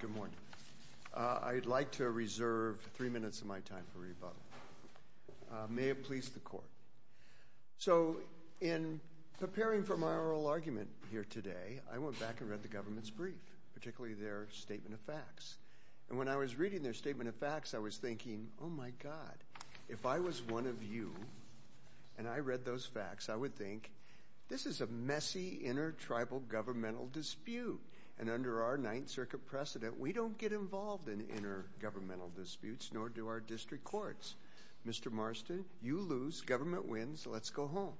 Good morning. I'd like to reserve three minutes of my time for rebuttal. May it please the So in preparing for my oral argument here today, I went back and read the government's brief, particularly their statement of facts. And when I was reading their statement of facts, I was thinking, oh my God, if I was one of you, and I read those facts, I would think, this is a messy inter-tribal governmental dispute. And under our Ninth Circuit precedent, we don't get involved in inter-governmental disputes, nor do our district courts. Mr. Marston, you lose, government wins, so let's go home.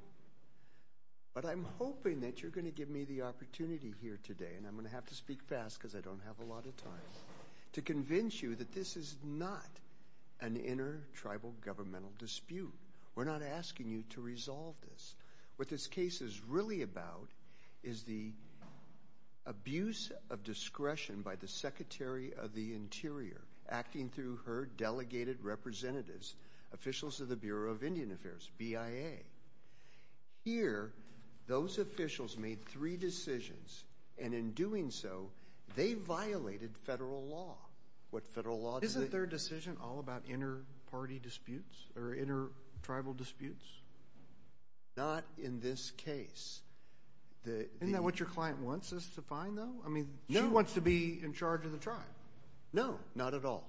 But I'm hoping that you're going to give me the opportunity here today, and I'm going to have to speak fast because I don't have a lot of time, to convince you that this is not an inter-tribal governmental dispute. We're not asking you to resolve this. What this case is really about is the abuse of discretion by the Secretary of the Interior, acting through her delegated representatives, officials of the Bureau of Indian Affairs, BIA. Here, those officials made three decisions, and in doing so, they violated federal law. Isn't their decision all about inter-party disputes or inter-tribal disputes? Not in this case. Isn't that what your client wants us to find, though? I mean, she wants to be in charge of the tribe. No, not at all.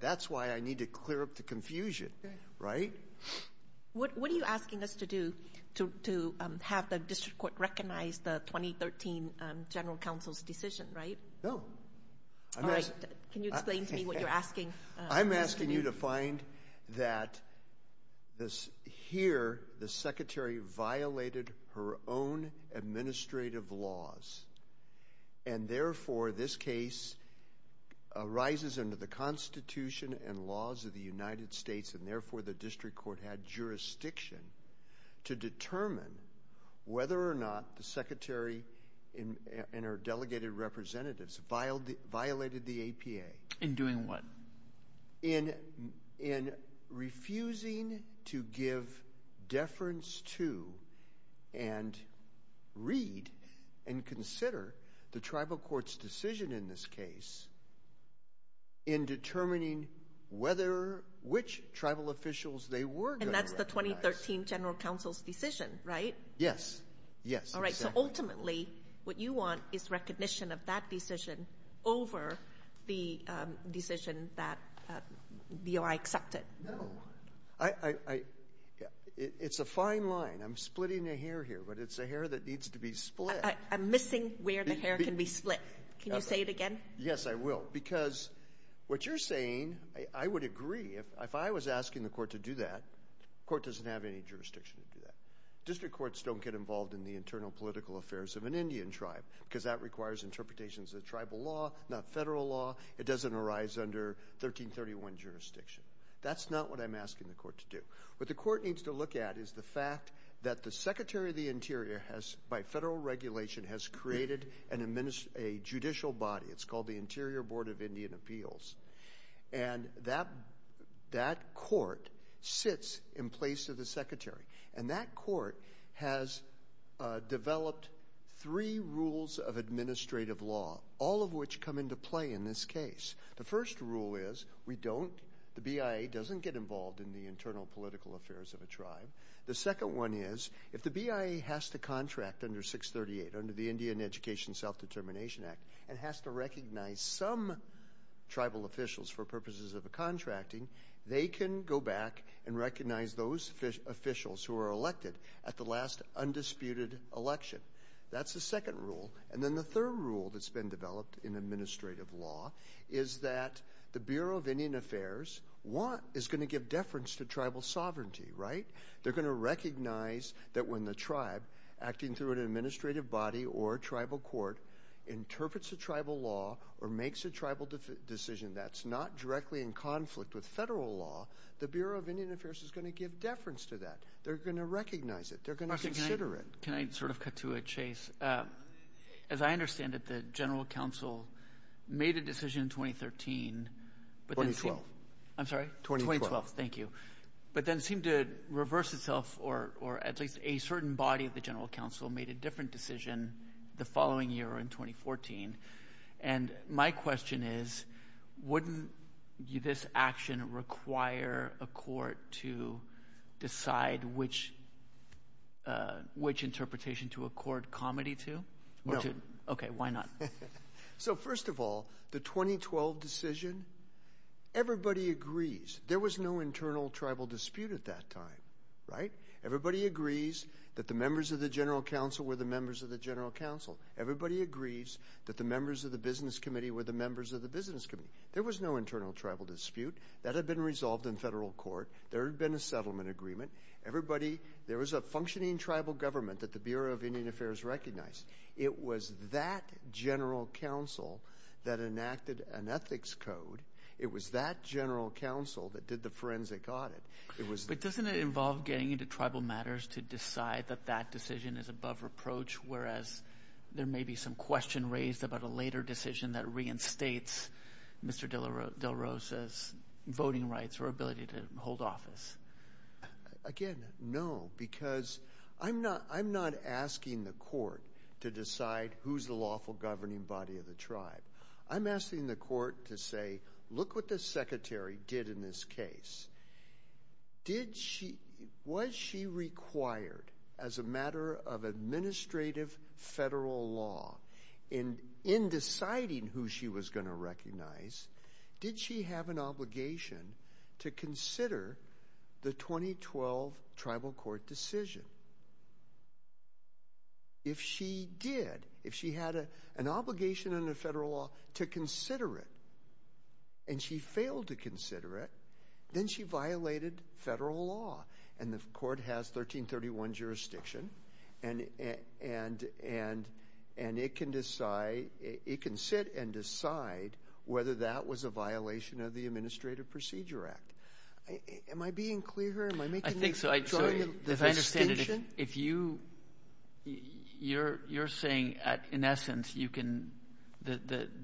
That's why I need to clear up the confusion, right? What are you asking us to do to have the district court recognize the 2013 General Counsel's decision, right? No. All right. Can you explain to me what you're asking? I'm asking you to find that here, the Secretary violated her own administrative laws, and therefore, this case arises under the Constitution and laws of the United States, and therefore, the district court had jurisdiction to determine whether or not the Secretary and her delegated representatives violated the APA. In doing what? In refusing to give deference to and read and consider the tribal court's decision in this case in determining which tribal officials they were going to recognize. And that's the 2013 General Counsel's decision, right? Yes. Yes, exactly. Ultimately, what you want is recognition of that decision over the decision that DOI accepted. No. It's a fine line. I'm splitting a hair here, but it's a hair that needs to be split. I'm missing where the hair can be split. Can you say it again? Yes, I will. Because what you're saying, I would agree. If I was asking the court to do that, the court doesn't have any jurisdiction to do that. District courts don't get involved in the internal political affairs of an Indian tribe, because that requires interpretations of tribal law, not federal law. It doesn't arise under 1331 jurisdiction. That's not what I'm asking the court to do. What the court needs to look at is the fact that the Secretary of the Interior has, by federal regulation, has created a judicial body. It's called the Interior Board of Indian Appeals. And that court sits in place of the Secretary. And that court has developed three rules of administrative law, all of which come into play in this case. The first rule is we don't, the BIA doesn't get involved in the internal political affairs of a tribe. The second one is if the BIA has to contract under 638, under the Indian Education Self-Determination Act, and has to recognize some tribal officials for purposes of contracting, they can go back and recognize those officials who were elected at the last undisputed election. That's the second rule. And then the third rule that's been developed in administrative law is that the Bureau of Indian Affairs is going to give deference to tribal sovereignty, right? They're going to recognize that when the tribe, acting through an administrative body or tribal court, interprets a tribal law or makes a tribal decision that's not directly in conflict with federal law, the Bureau of Indian Affairs is going to give deference to that. They're going to recognize it. They're going to consider it. Can I sort of cut to a chase? As I understand it, the General Counsel made a decision in 2013. 2012. I'm sorry? 2012. 2012, thank you. But then it seemed to reverse itself, or at least a certain body of the General Counsel made a different decision the following year in 2014. And my question is, wouldn't this action require a court to decide which interpretation to accord comedy to? No. Okay, why not? So, first of all, the 2012 decision, everybody agrees. There was no internal tribal dispute at that time, right? Everybody agrees that the members of the General Counsel were the members of the General Counsel. Everybody agrees that the members of the Business Committee were the members of the Business Committee. There was no internal tribal dispute. That had been resolved in federal court. There had been a settlement agreement. Everybody, there was a functioning tribal government that the Bureau of Indian Affairs recognized. It was that General Counsel that enacted an ethics code. It was that General Counsel that did the forensic audit. But doesn't it involve getting into tribal matters to decide that that decision is above reproach, whereas there may be some question raised about a later decision that reinstates Mr. Del Rosa's voting rights or ability to hold office? Again, no, because I'm not asking the court to decide who's the lawful governing body of the tribe. I'm asking the court to say, look what the secretary did in this case. Was she required as a matter of administrative federal law in deciding who she was going to recognize, did she have an obligation to consider the 2012 tribal court decision? If she did, if she had an obligation under federal law to consider it and she failed to consider it, then she violated federal law. And the court has 1331 jurisdiction, and it can sit and decide whether that was a violation of the Administrative Procedure Act. Am I being clear here? I think so. If I understand it, if you're saying in essence the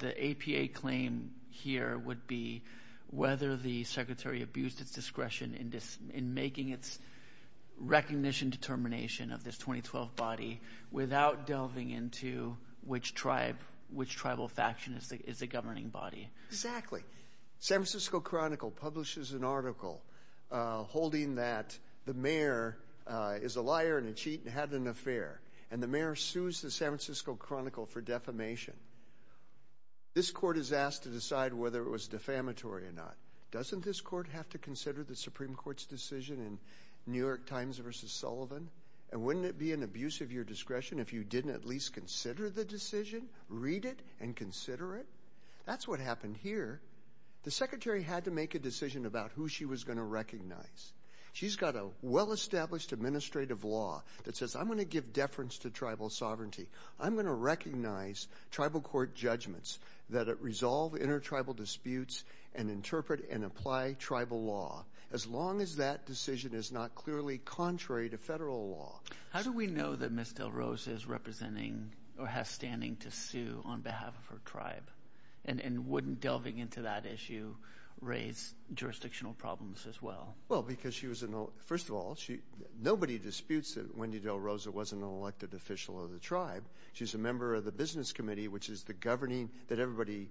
APA claim here would be whether the secretary abused its discretion in making its recognition determination of this 2012 body without delving into which tribal faction is the governing body. Exactly. San Francisco Chronicle publishes an article holding that the mayor is a liar and a cheat and had an affair, and the mayor sues the San Francisco Chronicle for defamation. This court is asked to decide whether it was defamatory or not. Doesn't this court have to consider the Supreme Court's decision in New York Times versus Sullivan? And wouldn't it be an abuse of your discretion if you didn't at least consider the decision, read it, and consider it? That's what happened here. The secretary had to make a decision about who she was going to recognize. She's got a well-established administrative law that says, I'm going to give deference to tribal sovereignty. I'm going to recognize tribal court judgments that resolve intertribal disputes and interpret and apply tribal law, as long as that decision is not clearly contrary to federal law. How do we know that Ms. Del Rosa is representing or has standing to sue on behalf of her tribe? And wouldn't delving into that issue raise jurisdictional problems as well? Well, because she was an – first of all, nobody disputes that Wendy Del Rosa wasn't an elected official of the tribe. She's a member of the business committee, which is the governing – that everybody,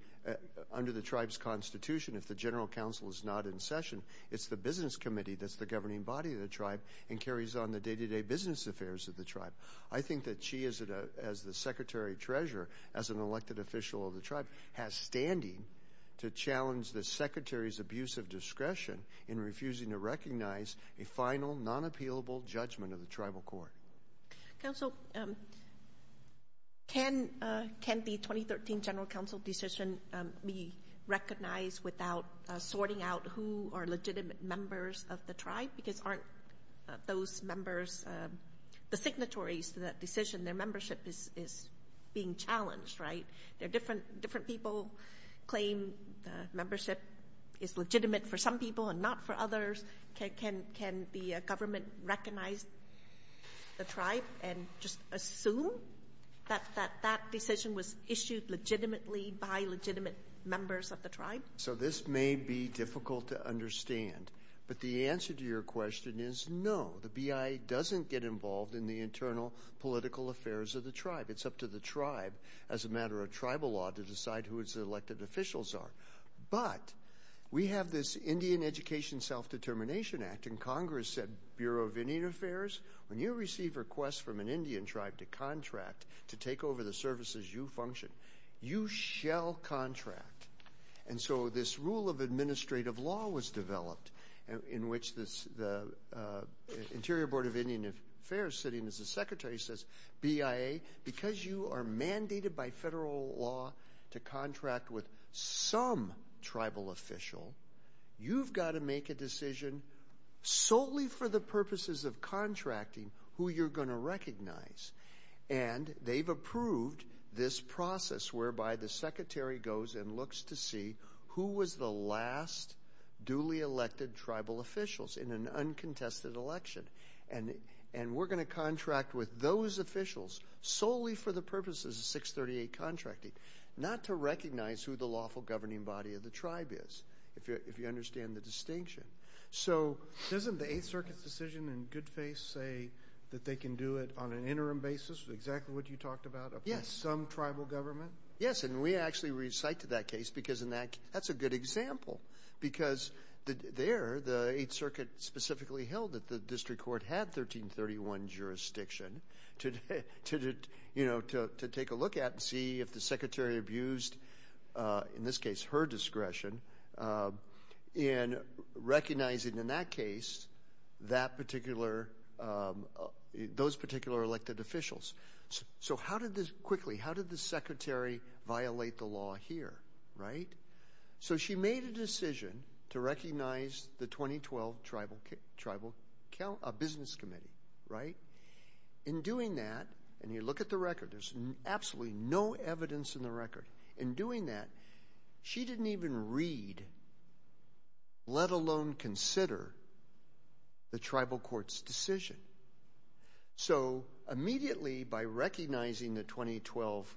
under the tribe's constitution, if the general counsel is not in session, it's the business committee that's the governing body of the tribe and carries on the day-to-day business affairs of the tribe. I think that she, as the secretary-treasurer, as an elected official of the tribe, has standing to challenge the secretary's abuse of discretion in refusing to recognize a final, non-appealable judgment of the tribal court. Counsel, can the 2013 general counsel decision be recognized without sorting out who are legitimate members of the tribe? Because aren't those members the signatories to that decision? Their membership is being challenged, right? Different people claim membership is legitimate for some people and not for others. Can the government recognize the tribe and just assume that that decision was issued legitimately by legitimate members of the tribe? So this may be difficult to understand, but the answer to your question is no. The BIA doesn't get involved in the internal political affairs of the tribe. It's up to the tribe, as a matter of tribal law, to decide who its elected officials are. But we have this Indian Education Self-Determination Act, and Congress said, Bureau of Indian Affairs, when you receive requests from an Indian tribe to contract to take over the services you function, you shall contract. And so this rule of administrative law was developed in which the Interior Board of Indian Affairs, sitting as a secretary, says, BIA, because you are mandated by federal law to contract with some tribal official, you've got to make a decision solely for the purposes of contracting who you're going to recognize. And they've approved this process whereby the secretary goes and looks to see who was the last duly elected tribal officials in an uncontested election. And we're going to contract with those officials solely for the purposes of 638 contracting, not to recognize who the lawful governing body of the tribe is, if you understand the distinction. So doesn't the Eighth Circuit's decision in good faith say that they can do it on an interim basis, exactly what you talked about, upon some tribal government? Yes, and we actually recite to that case, because that's a good example, because there the Eighth Circuit specifically held that the district court had 1331 jurisdiction to take a look at and see if the secretary abused, in this case, her discretion in recognizing, in that case, those particular elected officials. So how did this, quickly, how did the secretary violate the law here, right? So she made a decision to recognize the 2012 Tribal Business Committee, right? In doing that, and you look at the record, there's absolutely no evidence in the record. In doing that, she didn't even read, let alone consider, the tribal court's decision. So immediately, by recognizing the 2012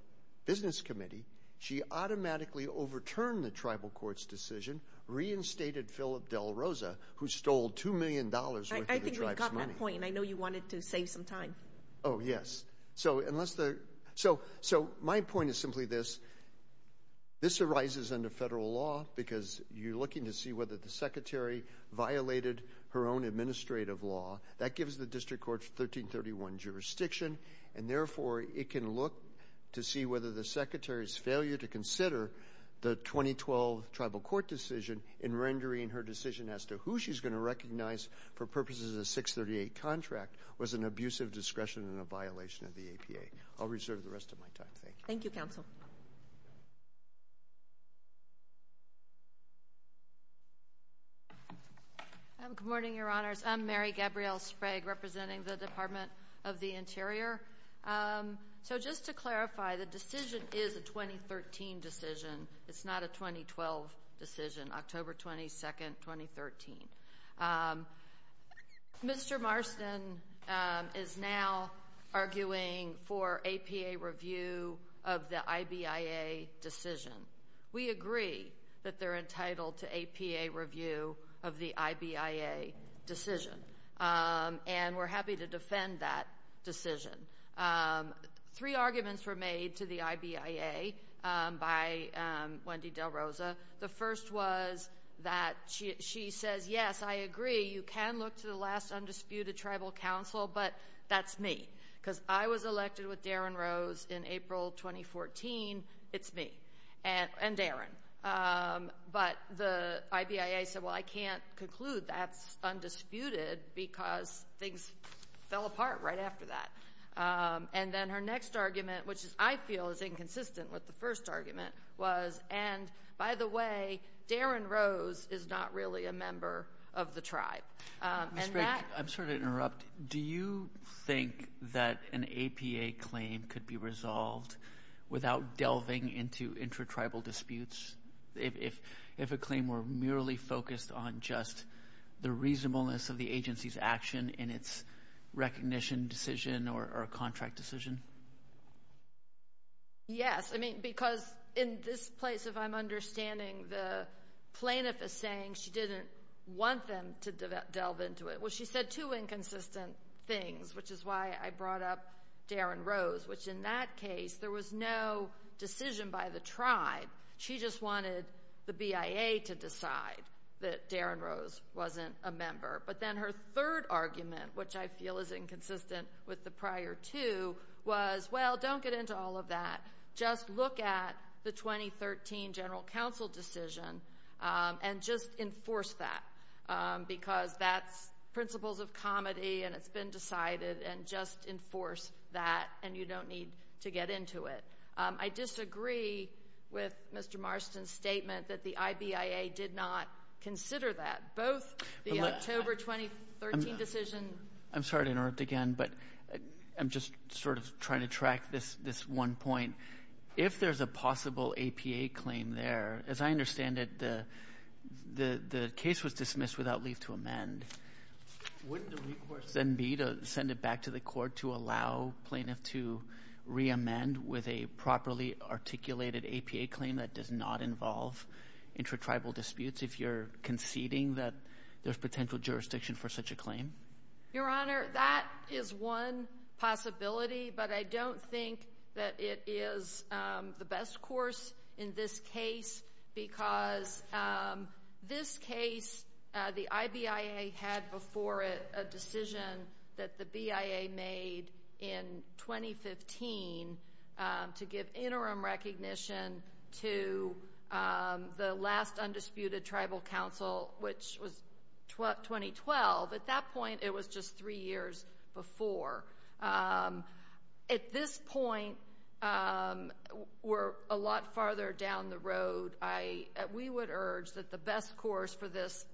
Business Committee, she automatically overturned the tribal court's decision, reinstated Philip Del Rosa, who stole $2 million worth of the tribe's money. That's my point, and I know you wanted to save some time. Oh, yes. So my point is simply this. This arises under federal law, because you're looking to see whether the secretary violated her own administrative law. That gives the district court 1331 jurisdiction, and therefore it can look to see whether the secretary's failure to consider the 2012 tribal court decision in rendering her decision as to who she's going to recognize for purposes of the 638 contract was an abuse of discretion and a violation of the APA. I'll reserve the rest of my time. Thank you. Thank you, counsel. Good morning, Your Honors. I'm Mary Gabrielle Sprague, representing the Department of the Interior. So just to clarify, the decision is a 2013 decision. It's not a 2012 decision, October 22nd, 2013. Mr. Marston is now arguing for APA review of the IBIA decision. We agree that they're entitled to APA review of the IBIA decision, and we're happy to defend that decision. Three arguments were made to the IBIA by Wendy Del Rosa. The first was that she says, yes, I agree, you can look to the last undisputed tribal counsel, but that's me, because I was elected with Darren Rose in April 2014. It's me and Darren. But the IBIA said, well, I can't conclude that's undisputed because things fell apart right after that. And then her next argument, which I feel is inconsistent with the first argument, was, and by the way, Darren Rose is not really a member of the tribe. Ms. Sprague, I'm sorry to interrupt. Do you think that an APA claim could be resolved without delving into intratribal disputes, if a claim were merely focused on just the reasonableness of the agency's action in its recognition decision or contract decision? Yes, because in this place, if I'm understanding, the plaintiff is saying she didn't want them to delve into it. Well, she said two inconsistent things, which is why I brought up Darren Rose, which in that case there was no decision by the tribe. She just wanted the BIA to decide that Darren Rose wasn't a member. But then her third argument, which I feel is inconsistent with the prior two, was, well, don't get into all of that. Just look at the 2013 general counsel decision and just enforce that, because that's principles of comedy and it's been decided, and just enforce that and you don't need to get into it. I disagree with Mr. Marston's statement that the IBIA did not consider that, both the October 2013 decision. I'm sorry to interrupt again, but I'm just sort of trying to track this one point. If there's a possible APA claim there, as I understand it, the case was dismissed without leave to amend. Wouldn't the request then be to send it back to the court to allow plaintiff to re-amend with a properly articulated APA claim that does not involve intratribal disputes, if you're conceding that there's potential jurisdiction for such a claim? Your Honor, that is one possibility, but I don't think that it is the best course in this case, because this case, the IBIA had before it a decision that the BIA made in 2015 to give interim recognition to the last undisputed tribal counsel, which was 2012. At that point, it was just three years before. At this point, we're a lot farther down the road. We would urge that the best course for this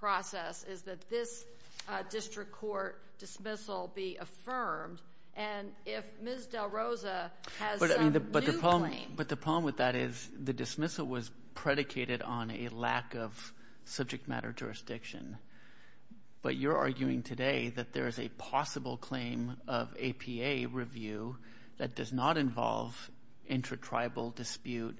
process is that this district court dismissal be affirmed, and if Ms. Del Rosa has some new claim. But the problem with that is the dismissal was predicated on a lack of subject matter jurisdiction. But you're arguing today that there is a possible claim of APA review that does not involve intratribal dispute,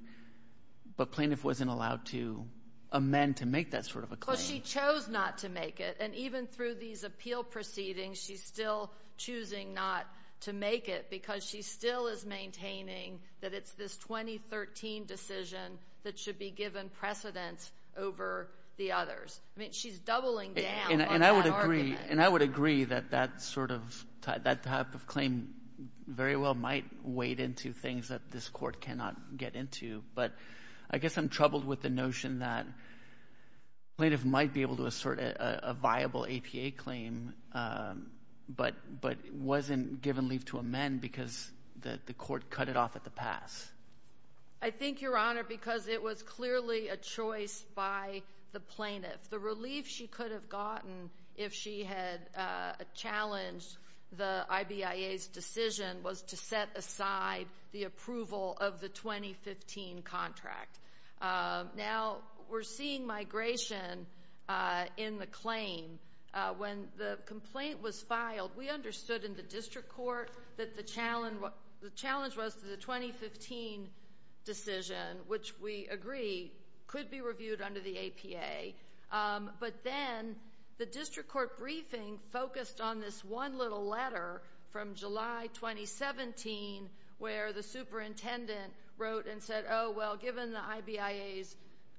but plaintiff wasn't allowed to amend to make that sort of a claim. Well, she chose not to make it. And even through these appeal proceedings, she's still choosing not to make it because she still is maintaining that it's this 2013 decision that should be given precedence over the others. I mean, she's doubling down on that argument. And I would agree. And I would agree that that sort of type of claim very well might wade into things that this court cannot get into. But I guess I'm troubled with the notion that plaintiff might be able to assert a viable APA claim, but wasn't given leave to amend because the court cut it off at the pass. I think, Your Honor, because it was clearly a choice by the plaintiff. The relief she could have gotten if she had challenged the IBIA's decision was to set aside the approval of the 2015 contract. Now, we're seeing migration in the claim. When the complaint was filed, we understood in the district court that the challenge was to the 2015 decision, which we agree could be reviewed under the APA. But then the district court briefing focused on this one little letter from July 2017, where the superintendent wrote and said, oh, well, given the IBIA's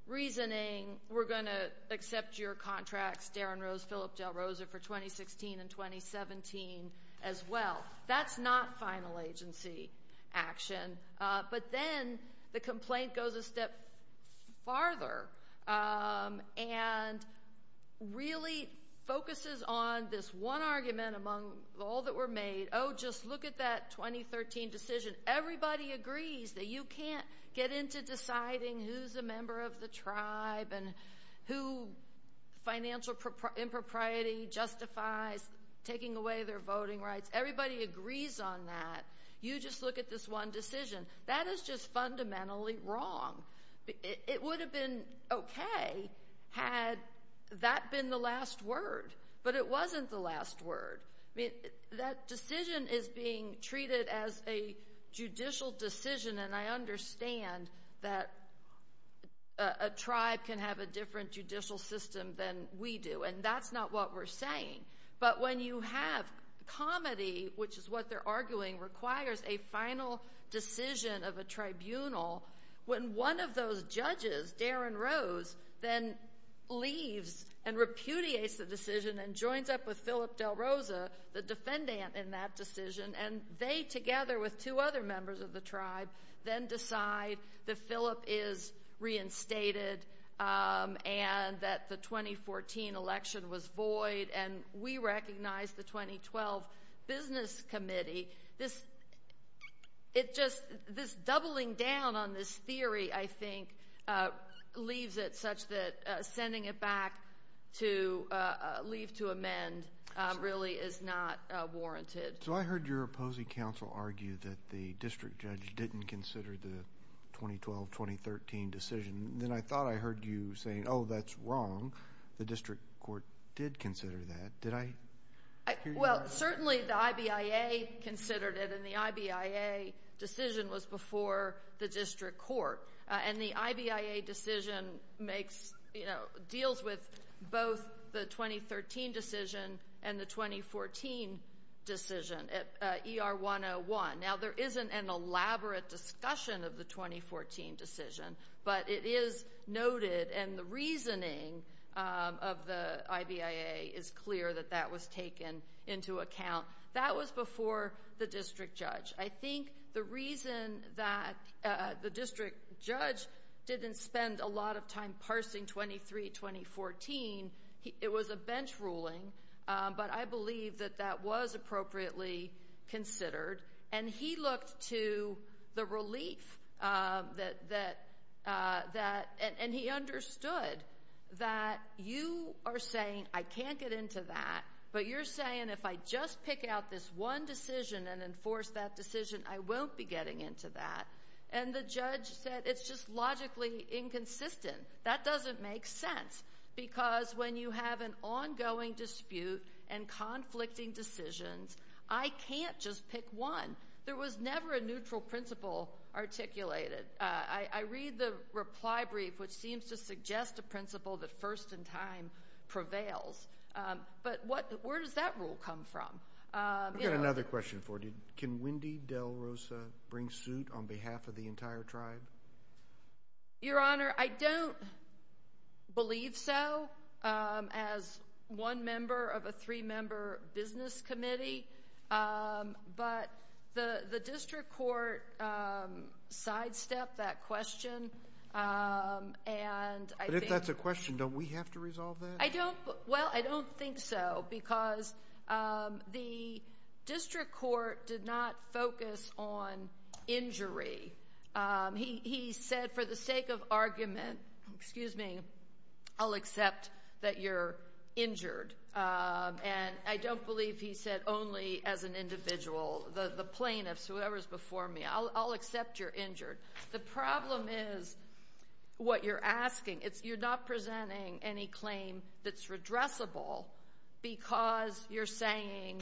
reasoning, we're going to accept your contracts, Darren Rose, Phillip Dell Rosa, for 2016 and 2017 as well. That's not final agency action. But then the complaint goes a step farther and really focuses on this one argument among all that were made. Oh, just look at that 2013 decision. Everybody agrees that you can't get into deciding who's a member of the tribe and who financial impropriety justifies taking away their voting rights. Everybody agrees on that. You just look at this one decision. That is just fundamentally wrong. It would have been okay had that been the last word. But it wasn't the last word. That decision is being treated as a judicial decision, and I understand that a tribe can have a different judicial system than we do, and that's not what we're saying. But when you have comedy, which is what they're arguing, requires a final decision of a tribunal, when one of those judges, Darren Rose, then leaves and repudiates the decision and joins up with Phillip Dell Rosa, the defendant in that decision, and they together with two other members of the tribe then decide that Phillip is reinstated and that the 2014 election was void and we recognize the 2012 business committee, this doubling down on this theory, I think, leaves it such that sending it back to leave to amend really is not warranted. So I heard your opposing counsel argue that the district judge didn't consider the 2012-2013 decision. Then I thought I heard you saying, oh, that's wrong. The district court did consider that. Did I hear you right? Well, certainly the IBIA considered it, and the IBIA decision was before the district court. And the IBIA decision deals with both the 2013 decision and the 2014 decision, ER 101. Now, there isn't an elaborate discussion of the 2014 decision, but it is noted and the reasoning of the IBIA is clear that that was taken into account. That was before the district judge. I think the reason that the district judge didn't spend a lot of time parsing 23-2014, it was a bench ruling, but I believe that that was appropriately considered. And he looked to the relief that he understood that you are saying I can't get into that, but you're saying if I just pick out this one decision and enforce that decision, I won't be getting into that. And the judge said it's just logically inconsistent. That doesn't make sense because when you have an ongoing dispute and conflicting decisions, I can't just pick one. There was never a neutral principle articulated. I read the reply brief, which seems to suggest a principle that first in time prevails. But where does that rule come from? I've got another question for you. Can Wendy Del Rosa bring suit on behalf of the entire tribe? Your Honor, I don't believe so as one member of a three-member business committee, but the district court sidestepped that question. But if that's a question, don't we have to resolve that? Well, I don't think so because the district court did not focus on injury. He said for the sake of argument, excuse me, I'll accept that you're injured. And I don't believe he said only as an individual. The plaintiffs, whoever is before me, I'll accept you're injured. The problem is what you're asking. You're not presenting any claim that's redressable because you're saying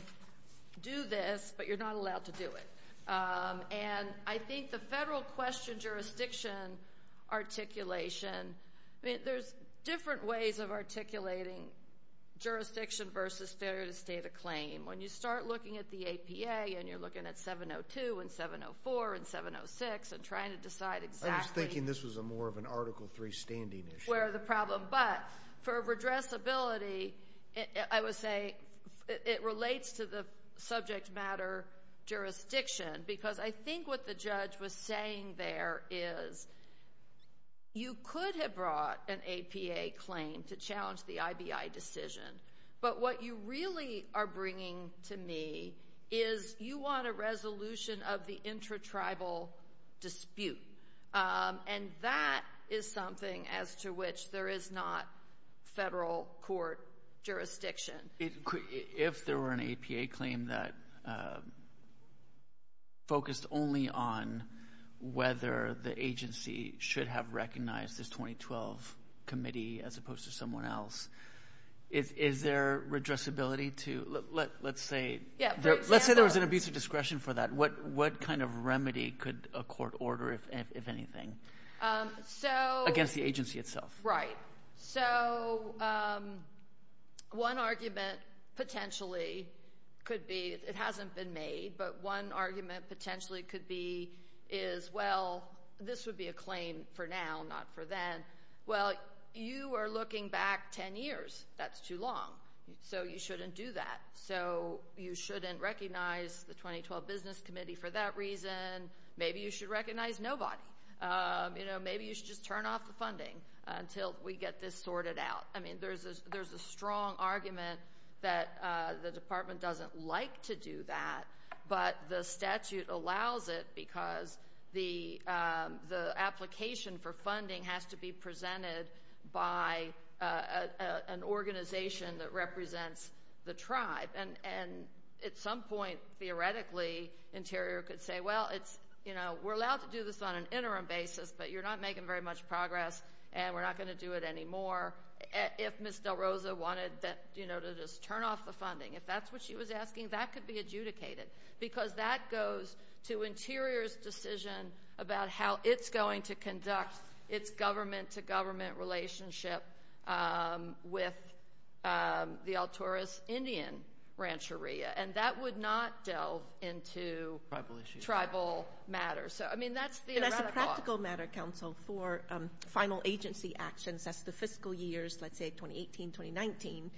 do this, but you're not allowed to do it. And I think the federal question jurisdiction articulation, there's different ways of articulating jurisdiction versus failure to state a claim. When you start looking at the APA and you're looking at 702 and 704 and 706 and trying to decide exactly where the problem is. I was thinking this was more of an Article III standing issue. But for redressability, I would say it relates to the subject matter jurisdiction because I think what the judge was saying there is you could have brought an APA claim to challenge the IBI decision. But what you really are bringing to me is you want a resolution of the intratribal dispute. And that is something as to which there is not federal court jurisdiction. If there were an APA claim that focused only on whether the agency should have recognized this 2012 committee as opposed to someone else, is there redressability to let's say there was an abuse of discretion for that. What kind of remedy could a court order, if anything, against the agency itself? Right. So one argument potentially could be, it hasn't been made, but one argument potentially could be is, well, this would be a claim for now, not for then. Well, you are looking back 10 years. That's too long. So you shouldn't do that. So you shouldn't recognize the 2012 business committee for that reason. Maybe you should recognize nobody. Maybe you should just turn off the funding until we get this sorted out. I mean, there's a strong argument that the department doesn't like to do that, but the statute allows it because the application for funding has to be presented by an organization that represents the tribe. And at some point, theoretically, Interior could say, well, it's, you know, we're allowed to do this on an interim basis, but you're not making very much progress and we're not going to do it anymore. If Ms. Del Rosa wanted to just turn off the funding, if that's what she was asking, that could be adjudicated because that goes to Interior's decision about how it's going to conduct its government-to-government relationship with the Alturas Indian Rancheria, and that would not delve into tribal matters. And as a practical matter, counsel, for final agency actions, that's the fiscal years, let's say 2018, 2019,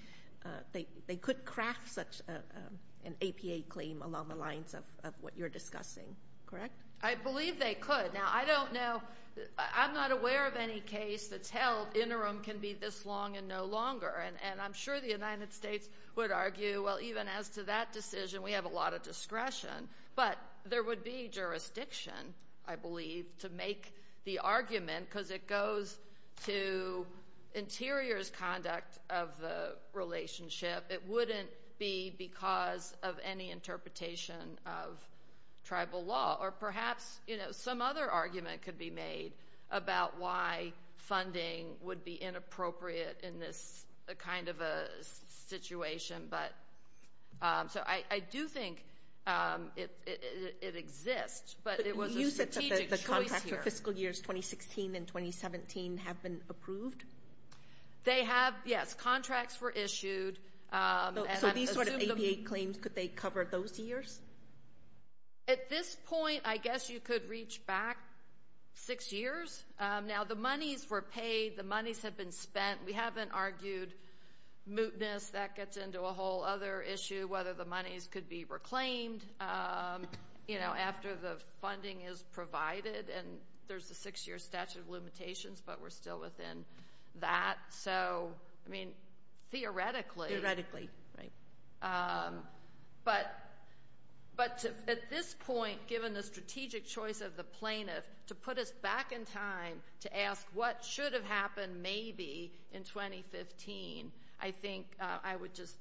they could craft such an APA claim along the lines of what you're discussing, correct? I believe they could. Now, I don't know, I'm not aware of any case that's held interim can be this long and no longer, and I'm sure the United States would argue, well, even as to that decision, we have a lot of discretion, but there would be jurisdiction, I believe, to make the argument because it goes to Interior's conduct of the relationship. It wouldn't be because of any interpretation of tribal law or perhaps some other argument could be made about why funding would be inappropriate in this kind of a situation. So I do think it exists, but it was a strategic choice here. But you said that the contracts for fiscal years 2016 and 2017 have been approved? They have, yes. Contracts were issued. So these sort of APA claims, could they cover those years? At this point, I guess you could reach back six years. Now, the monies were paid, the monies have been spent. We haven't argued mootness, that gets into a whole other issue, whether the monies could be reclaimed after the funding is provided, and there's a six-year statute of limitations, but we're still within that. So, I mean, theoretically. Theoretically, right. But at this point, given the strategic choice of the plaintiff to put us back in time to ask what should have happened maybe in 2015, I think I would just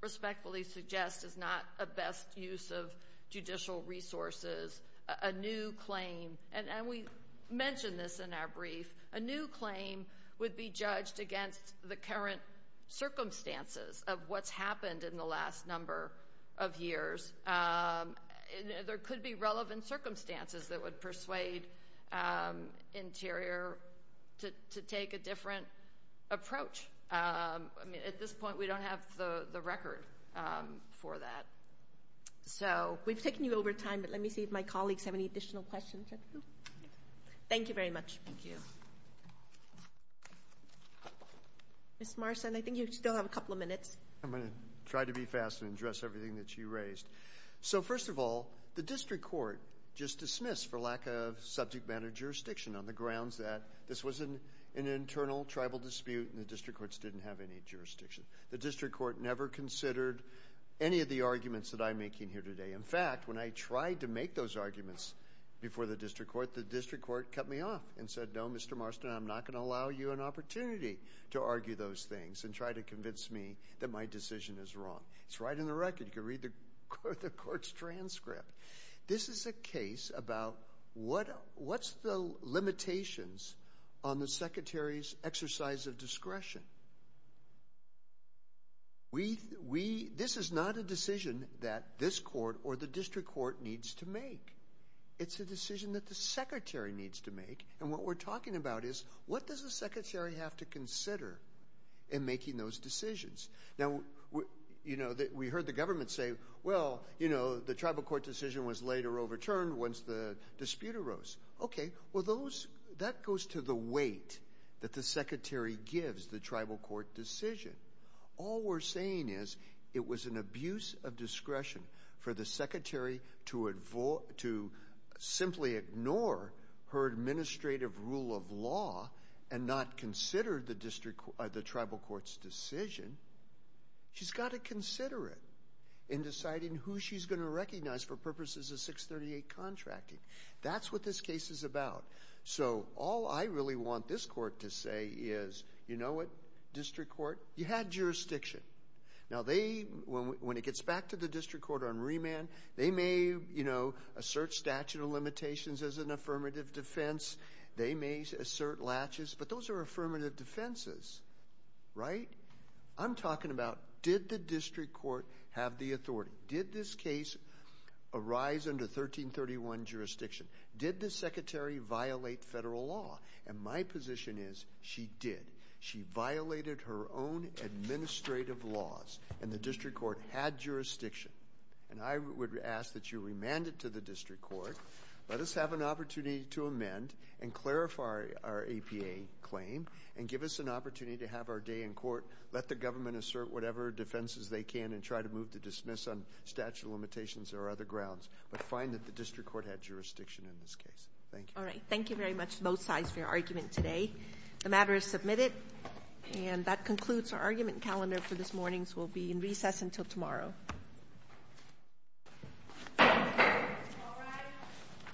respectfully suggest is not a best use of judicial resources. A new claim, and we mentioned this in our brief, a new claim would be judged against the current circumstances of what's happened in the last number of years. There could be relevant circumstances that would persuade Interior to take a different approach. At this point, we don't have the record for that. We've taken you over time, but let me see if my colleagues have any additional questions. Thank you very much. Thank you. Ms. Marston, I think you still have a couple of minutes. I'm going to try to be fast and address everything that you raised. So, first of all, the district court just dismissed for lack of subject matter jurisdiction on the grounds that this was an internal tribal dispute and the district courts didn't have any jurisdiction. The district court never considered any of the arguments that I'm making here today. In fact, when I tried to make those arguments before the district court, the district court cut me off and said, no, Mr. Marston, I'm not going to allow you an opportunity to argue those things and try to convince me that my decision is wrong. It's right in the record. You can read the court's transcript. This is a case about what's the limitations on the secretary's exercise of discretion. This is not a decision that this court or the district court needs to make. It's a decision that the secretary needs to make, and what we're talking about is what does the secretary have to consider in making those decisions. Now, we heard the government say, well, you know, the tribal court decision was later overturned once the dispute arose. Okay, well, that goes to the weight that the secretary gives the tribal court decision. All we're saying is it was an abuse of discretion for the secretary to simply ignore her administrative rule of law and not consider the tribal court's decision. She's got to consider it in deciding who she's going to recognize for purposes of 638 contracting. That's what this case is about. So all I really want this court to say is, you know what, district court, you had jurisdiction. Now, when it gets back to the district court on remand, they may, you know, assert statute of limitations as an affirmative defense. They may assert latches, but those are affirmative defenses, right? I'm talking about did the district court have the authority? Did this case arise under 1331 jurisdiction? Did the secretary violate federal law? And my position is she did. She violated her own administrative laws, and the district court had jurisdiction. And I would ask that you remand it to the district court, let us have an opportunity to amend and clarify our APA claim and give us an opportunity to have our day in court, let the government assert whatever defenses they can and try to move to dismiss on statute of limitations or other grounds, but find that the district court had jurisdiction in this case. Thank you. All right. Thank you very much to both sides for your argument today. The matter is submitted, and that concludes our argument calendar for this morning. So we'll be in recess until tomorrow. All rise.